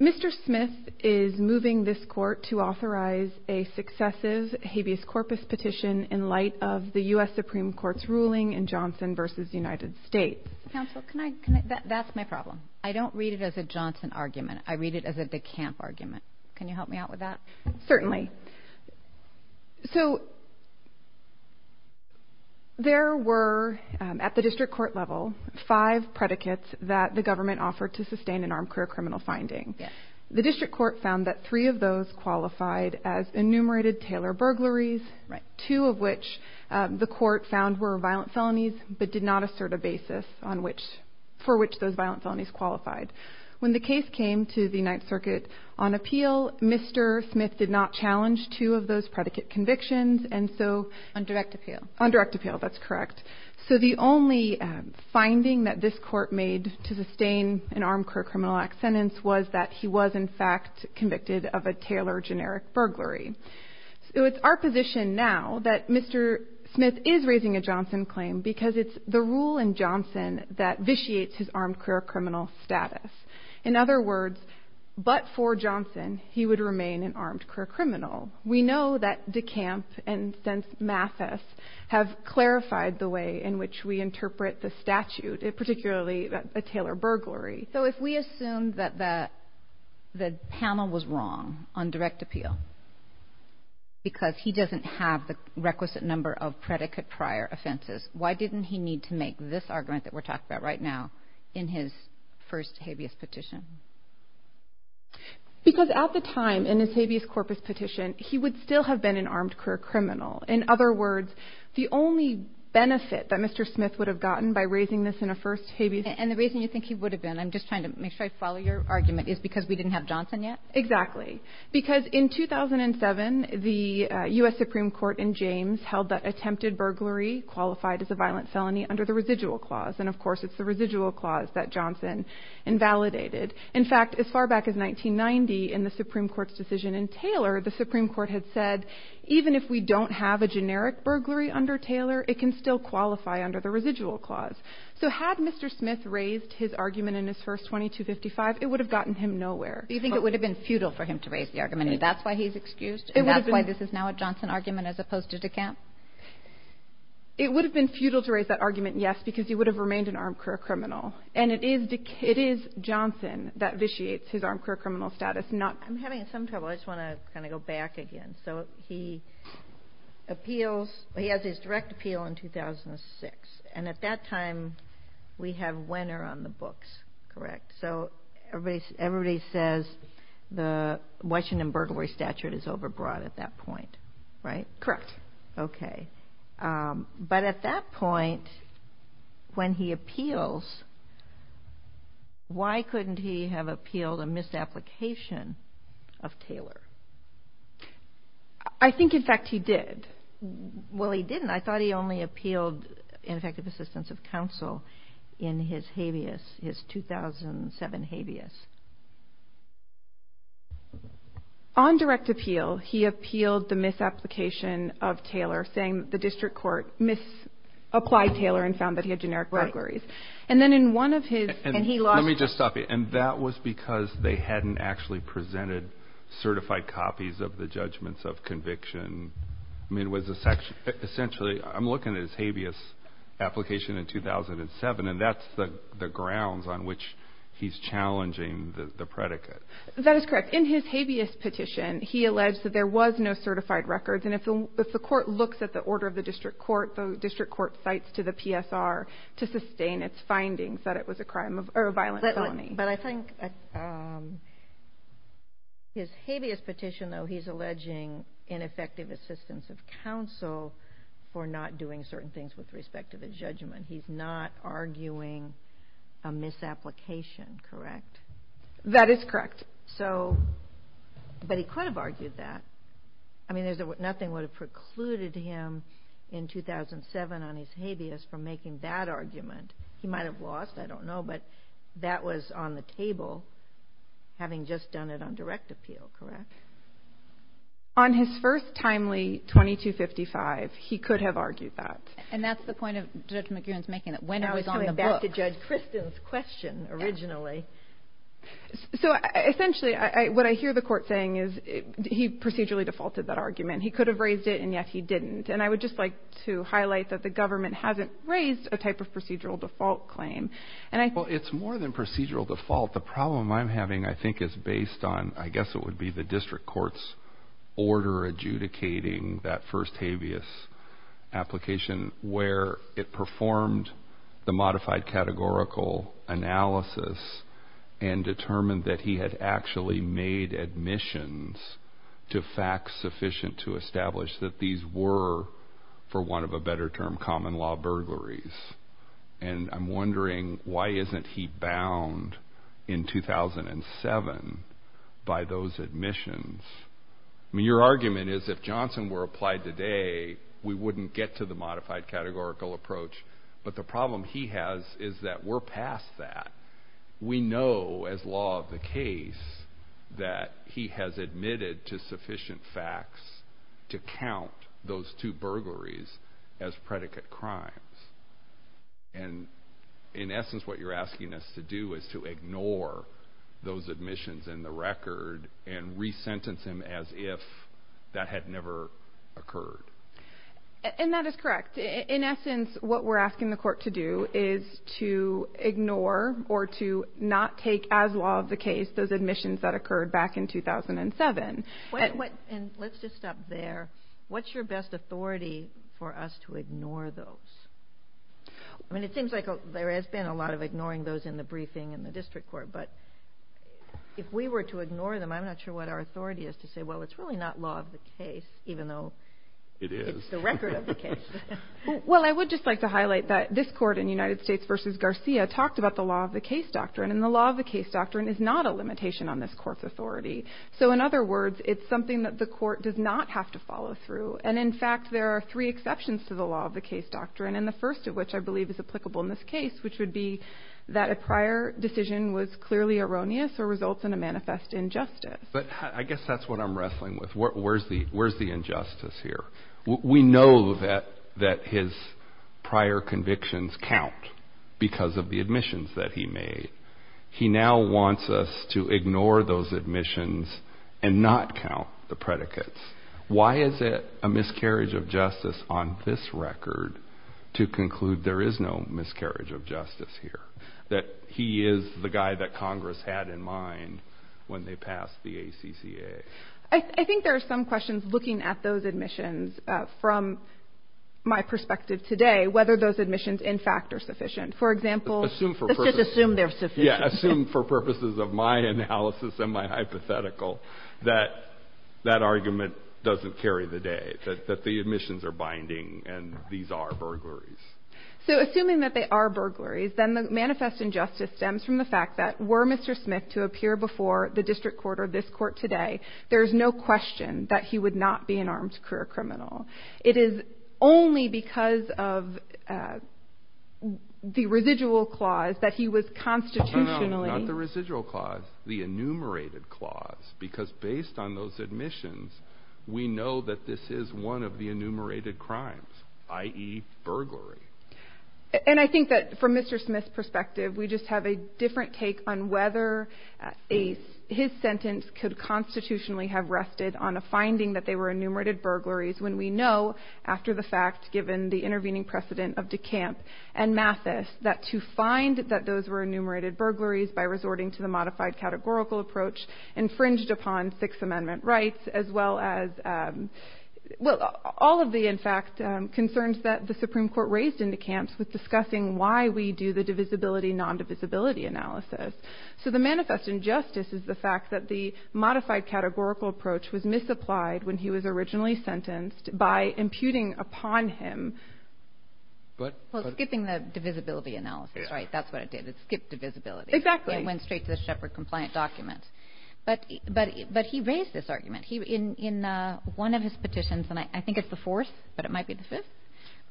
Mr. Smith is moving this court to authorize a successive habeas corpus petition in light of the U.S. Supreme Court's ruling in Johnson v. United States. Counsel, that's my problem. I don't read it as a Johnson argument. I read it as a DeKalb argument. Can you help me out with that? So, there were, at the district court level, five predicates that the government offered to sustain an armed career criminal finding. The district court found that three of those qualified as enumerated Taylor burglaries, two of which the court found were violent felonies, but did not assert a basis for which those violent felonies qualified. When the case came to the Ninth Circuit on appeal, Mr. Smith did not challenge two of those predicate convictions, and so... On direct appeal. On direct appeal. That's correct. So, the only finding that this court made to sustain an armed career criminal act sentence was that he was, in fact, convicted of a Taylor generic burglary. So, it's our position now that Mr. Smith is raising a Johnson claim because it's the rule in Johnson that vitiates his armed career criminal status. In other words, but for Johnson, he would remain an armed career criminal. We know that DeKalb and, since Mathis, have clarified the way in which we interpret the statute, particularly a Taylor burglary. So, if we assume that the panel was wrong on direct appeal because he doesn't have the requisite number of predicate prior offenses, why didn't he need to make this argument that we're talking about right now in his first habeas petition? Because at the time, in his habeas corpus petition, he would still have been an armed career criminal. In other words, the only benefit that Mr. Smith would have gotten by raising this in a first habeas... And the reason you think he would have been, I'm just trying to make sure I follow your argument, is because we didn't have Johnson yet? Exactly. Because in 2007, the U.S. Supreme Court in James held that attempted burglary qualified as a violent felony under the residual clause. And, of course, it's the residual clause that Johnson invalidated. In fact, as far back as 1990, in the Supreme Court's decision in Taylor, the Supreme Court had said, even if we don't have a generic burglary under Taylor, it can still qualify under the residual clause. So had Mr. Smith raised his argument in his first 2255, it would have gotten him nowhere. You think it would have been futile for him to raise the argument? That's why he's excused? It would have been... And that's why this is now a Johnson argument as opposed to DeKalb? It would have been futile to raise that argument, yes, because he would have remained an armed career criminal. And it is DeKalb... It is Johnson that vitiates his armed career criminal status, not... I'm having some trouble. I just want to kind of go back again. So he appeals. He has his direct appeal in 2006. And at that time, we have Wenner on the books, correct? So everybody says the Washington burglary statute is overbroad at that point, right? Correct. Okay. But at that point, when he appeals, why couldn't he have appealed a misapplication of Taylor? I think, in fact, he did. Well, he didn't. I thought he only appealed ineffective assistance of counsel in his habeas, his 2007 habeas. On direct appeal, he appealed the misapplication of Taylor, saying the district court misapplied Taylor and found that he had generic burglaries. Right. And then in one of his... And he lost... Let me just stop you. And that was because they hadn't actually presented certified copies of the judgments of conviction. Essentially, I'm looking at his habeas application in 2007, and that's the grounds on which he's challenging the predicate. That is correct. In his habeas petition, he alleged that there was no certified records. And if the court looks at the order of the district court, the district court cites to the PSR to sustain its findings that it was a violent felony. But I think his habeas petition, though, he's alleging ineffective assistance of counsel for not doing certain things with respect to the judgment. He's not arguing a misapplication, correct? That is correct. But he could have argued that. I mean, nothing would have precluded him in 2007 on his habeas from making that argument. He might have lost. I don't know. But that was on the table, having just done it on direct appeal, correct? On his first timely 2255, he could have argued that. And that's the point of Judge McGuirin's making, that when it was on the book... I was coming back to Judge Kristen's question originally. So, essentially, what I hear the court saying is he procedurally defaulted that argument. He could have raised it, and yet he didn't. And I would just like to highlight that the government hasn't raised a type of procedural default claim. Well, it's more than procedural default. The problem I'm having, I think, is based on, I guess it would be the district court's order adjudicating that first habeas application where it performed the modified categorical analysis and determined that he had actually made admissions to facts sufficient to establish that these were, for want of a better term, common law burglaries. And I'm wondering why isn't he bound in 2007 by those admissions? I mean, your argument is if Johnson were applied today, we wouldn't get to the modified categorical approach. But the problem he has is that we're past that. We know, as law of the case, that he has admitted to sufficient facts to count those two burglaries as predicate crimes. And, in essence, what you're asking us to do is to ignore those admissions in the record and resentence him as if that had never occurred. And that is correct. In essence, what we're asking the court to do is to ignore or to not take as law of the case those admissions that occurred back in 2007. And let's just stop there. What's your best authority for us to ignore those? I mean, it seems like there has been a lot of ignoring those in the briefing in the district court. But if we were to ignore them, I'm not sure what our authority is to say, well, it's really not law of the case, even though it's the record of the case. Well, I would just like to highlight that this court in United States v. Garcia talked about the law of the case doctrine. And the law of the case doctrine is not a limitation on this court's authority. So, in other words, it's something that the court does not have to follow through. And, in fact, there are three exceptions to the law of the case doctrine, and the first of which I believe is applicable in this case, which would be that a prior decision was clearly erroneous or results in a manifest injustice. But I guess that's what I'm wrestling with. Where's the injustice here? We know that his prior convictions count because of the admissions that he made. He now wants us to ignore those admissions and not count the predicates. Why is it a miscarriage of justice on this record to conclude there is no miscarriage of justice here, that he is the guy that Congress had in mind when they passed the ACCA? I think there are some questions looking at those admissions from my perspective today, whether those admissions, in fact, are sufficient. For example, let's just assume they're sufficient. Yeah, assume for purposes of my analysis and my hypothetical that that argument doesn't carry the day, that the admissions are binding and these are burglaries. So assuming that they are burglaries, then the manifest injustice stems from the fact that were Mr. Smith to appear before the district court or this court today, there is no question that he would not be an armed career criminal. It is only because of the residual clause that he was constitutionally – No, no, no, not the residual clause, the enumerated clause, because based on those admissions, we know that this is one of the enumerated crimes, i.e., burglary. And I think that from Mr. Smith's perspective, we just have a different take on whether his sentence could constitutionally have rested on a finding that they were enumerated burglaries when we know, after the fact, given the intervening precedent of DeCamp and Mathis, that to find that those were enumerated burglaries by resorting to the modified categorical approach infringed upon Sixth Amendment rights as well as – well, all of the, in fact, concerns that the Supreme Court raised in DeCamp with discussing why we do the divisibility, non-divisibility analysis. So the manifest injustice is the fact that the modified categorical approach was misapplied when he was originally sentenced by imputing upon him – Well, skipping the divisibility analysis, right? That's what it did. It skipped divisibility. Exactly. It went straight to the Shepherd-compliant document. But he raised this argument. In one of his petitions, and I think it's the fourth, but it might be the fifth,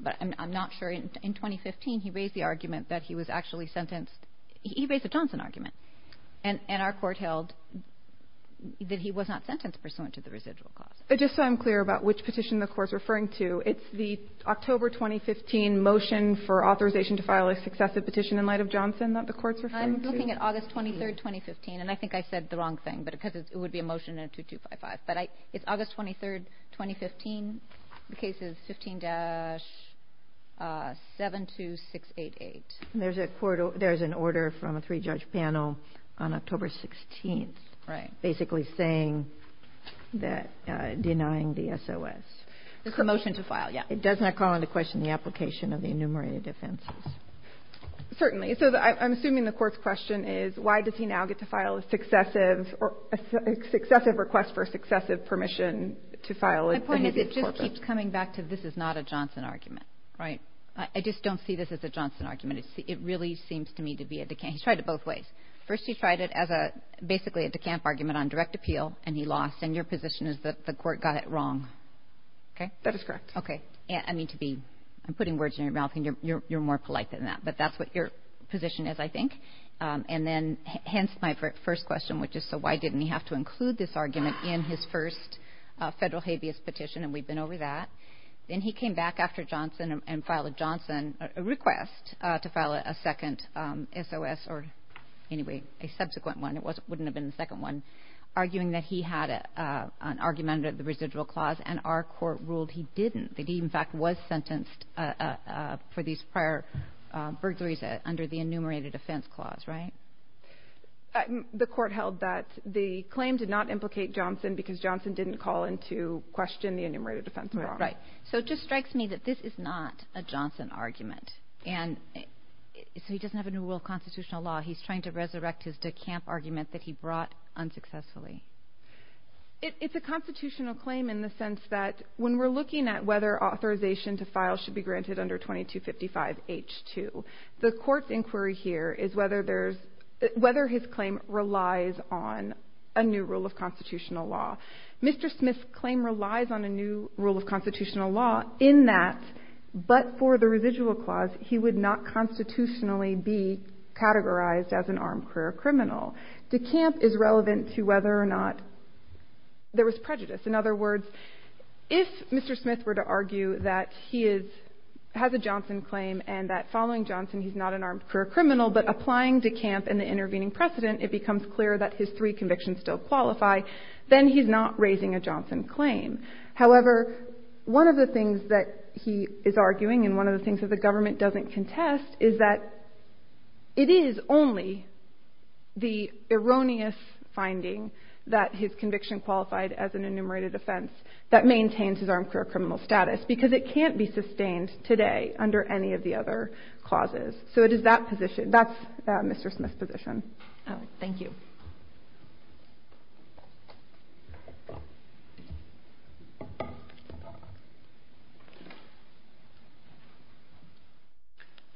but I'm not sure. In 2015, he raised the argument that he was actually sentenced – he raised a Johnson argument. And our Court held that he was not sentenced pursuant to the residual clause. But just so I'm clear about which petition the Court's referring to, it's the October 2015 motion for authorization to file a successive petition in light of Johnson that the Court's referring to? I'm looking at August 23rd, 2015. And I think I said the wrong thing because it would be a motion in 2255. But it's August 23rd, 2015. The case is 15-72688. And there's an order from a three-judge panel on October 16th. Right. Basically saying that – denying the SOS. It's a motion to file, yeah. It does not call into question the application of the enumerated offenses. Certainly. So I'm assuming the Court's question is, why does he now get to file a successive request for a successive permission to file? My point is it just keeps coming back to this is not a Johnson argument, right? I just don't see this as a Johnson argument. It really seems to me to be a – he's tried it both ways. First, he tried it as a – basically a decamp argument on direct appeal, and he lost. And your position is that the Court got it wrong, okay? That is correct. Okay. I mean, to be – I'm putting words in your mouth, and you're more polite than that. But that's what your position is, I think. And then, hence, my first question, which is, so why didn't he have to include this argument in his first federal habeas petition? And we've been over that. Then he came back after Johnson and filed a Johnson request to file a second SOS, or anyway, a subsequent one. It wouldn't have been the second one. Arguing that he had an argument under the residual clause, and our Court ruled he didn't. That he, in fact, was sentenced for these prior burglaries under the enumerated offense clause, right? The Court held that the claim did not implicate Johnson because Johnson didn't call into question the enumerated offense clause. Right. So it just strikes me that this is not a Johnson argument. And so he doesn't have a new rule of constitutional law. He's trying to resurrect his decamp argument that he brought unsuccessfully. It's a constitutional claim in the sense that when we're looking at whether authorization to file should be granted under 2255H2, the Court's inquiry here is whether his claim relies on a new rule of constitutional law. Mr. Smith's claim relies on a new rule of constitutional law in that, but for the residual clause, he would not constitutionally be categorized as an armed career criminal. Decamp is relevant to whether or not there was prejudice. In other words, if Mr. Smith were to argue that he has a Johnson claim and that following Johnson he's not an armed career criminal, but applying decamp and the intervening precedent, it becomes clear that his three convictions still qualify, then he's not raising a Johnson claim. However, one of the things that he is arguing and one of the things that the government doesn't contest is that it is only the erroneous finding that his conviction qualified as an enumerated offense that maintains his armed career criminal status because it can't be sustained today under any of the other clauses. So it is that position. That's Mr. Smith's position. Thank you.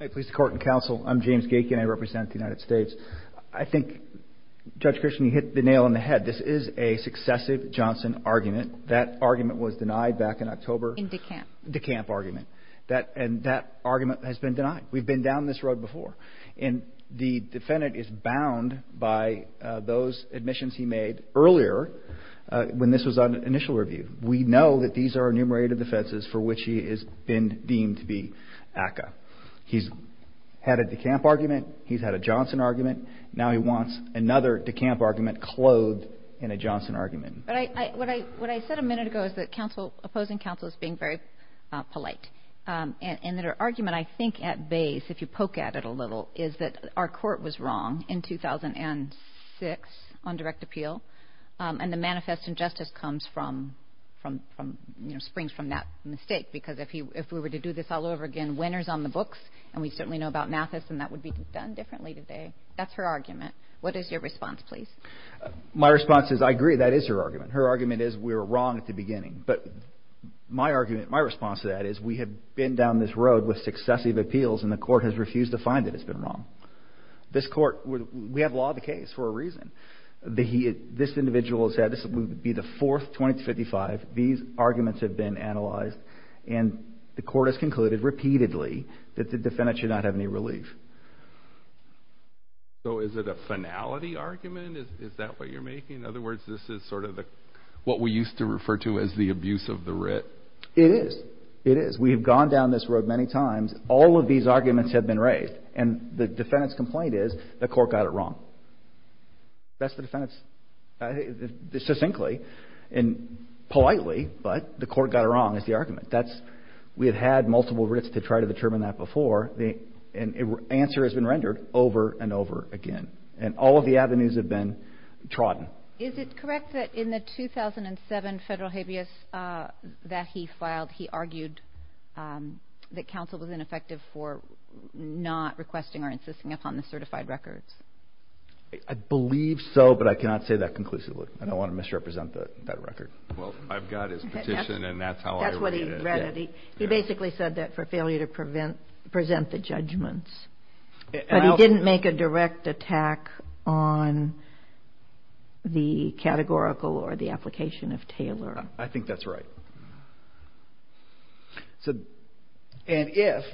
Hi, police, court, and counsel. I'm James Gaikin. I represent the United States. I think, Judge Christian, you hit the nail on the head. This is a successive Johnson argument. That argument was denied back in October. In Decamp. Decamp argument. And that argument has been denied. We've been down this road before. And the defendant is bound by those admissions he made earlier when this was on initial review. We know that these are enumerated offenses for which he has been deemed to be ACCA. He's had a Decamp argument. He's had a Johnson argument. Now he wants another Decamp argument clothed in a Johnson argument. What I said a minute ago is that opposing counsel is being very polite. And their argument, I think, at base, if you poke at it a little, is that our court was wrong in 2006 on direct appeal. And the manifest injustice springs from that mistake. Because if we were to do this all over again, winners on the books, and we certainly know about Mathis, and that would be done differently today. That's her argument. What is your response, please? My response is I agree. That is her argument. Her argument is we were wrong at the beginning. But my argument, my response to that, is we have been down this road with successive appeals and the court has refused to find that it's been wrong. We have law of the case for a reason. This individual would be the fourth, 20 to 55. These arguments have been analyzed. And the court has concluded repeatedly that the defendant should not have any relief. So is it a finality argument? Is that what you're making? In other words, this is sort of what we used to refer to as the abuse of the writ. It is. It is. We have gone down this road many times. All of these arguments have been raised. And the defendant's complaint is the court got it wrong. That's the defendant's, succinctly and politely, but the court got it wrong is the argument. We have had multiple writs to try to determine that before, and the answer has been rendered over and over again. And all of the avenues have been trodden. Is it correct that in the 2007 federal habeas that he filed, he argued that counsel was ineffective for not requesting or insisting upon the certified records? I believe so, but I cannot say that conclusively. I don't want to misrepresent that record. Well, I've got his petition, and that's how I read it. That's what he read it. He basically said that for failure to present the judgments. But he didn't make a direct attack on the categorical or the application of Taylor. I think that's right. And if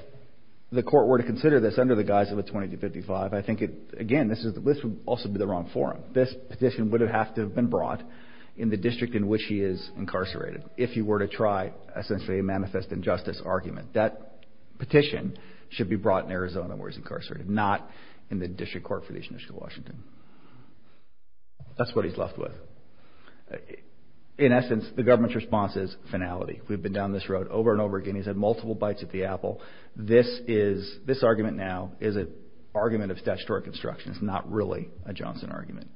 the court were to consider this under the guise of a 2255, I think, again, this would also be the wrong forum. This petition would have to have been brought in the district in which he is incarcerated if he were to try, essentially, a manifest injustice argument. That petition should be brought in Arizona where he's incarcerated, not in the district court for the District of Washington. That's what he's left with. In essence, the government's response is finality. We've been down this road over and over again. He's had multiple bites at the apple. This argument now is an argument of statutory construction. It's not really a Johnson argument.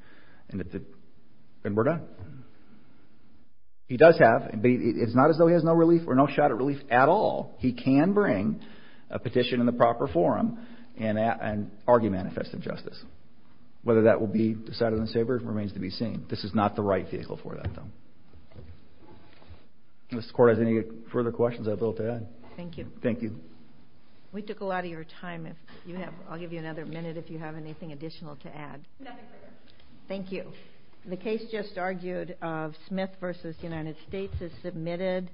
And we're done. He does have, but it's not as though he has no relief or no shot at relief at all. He can bring a petition in the proper forum and argue manifest injustice. Whether that will be decided on the sabre remains to be seen. This is not the right vehicle for that, though. Does the Court have any further questions I'm able to add? Thank you. Thank you. We took a lot of your time. I'll give you another minute if you have anything additional to add. Nothing further. Thank you. The case just argued of Smith v. United States is submitted.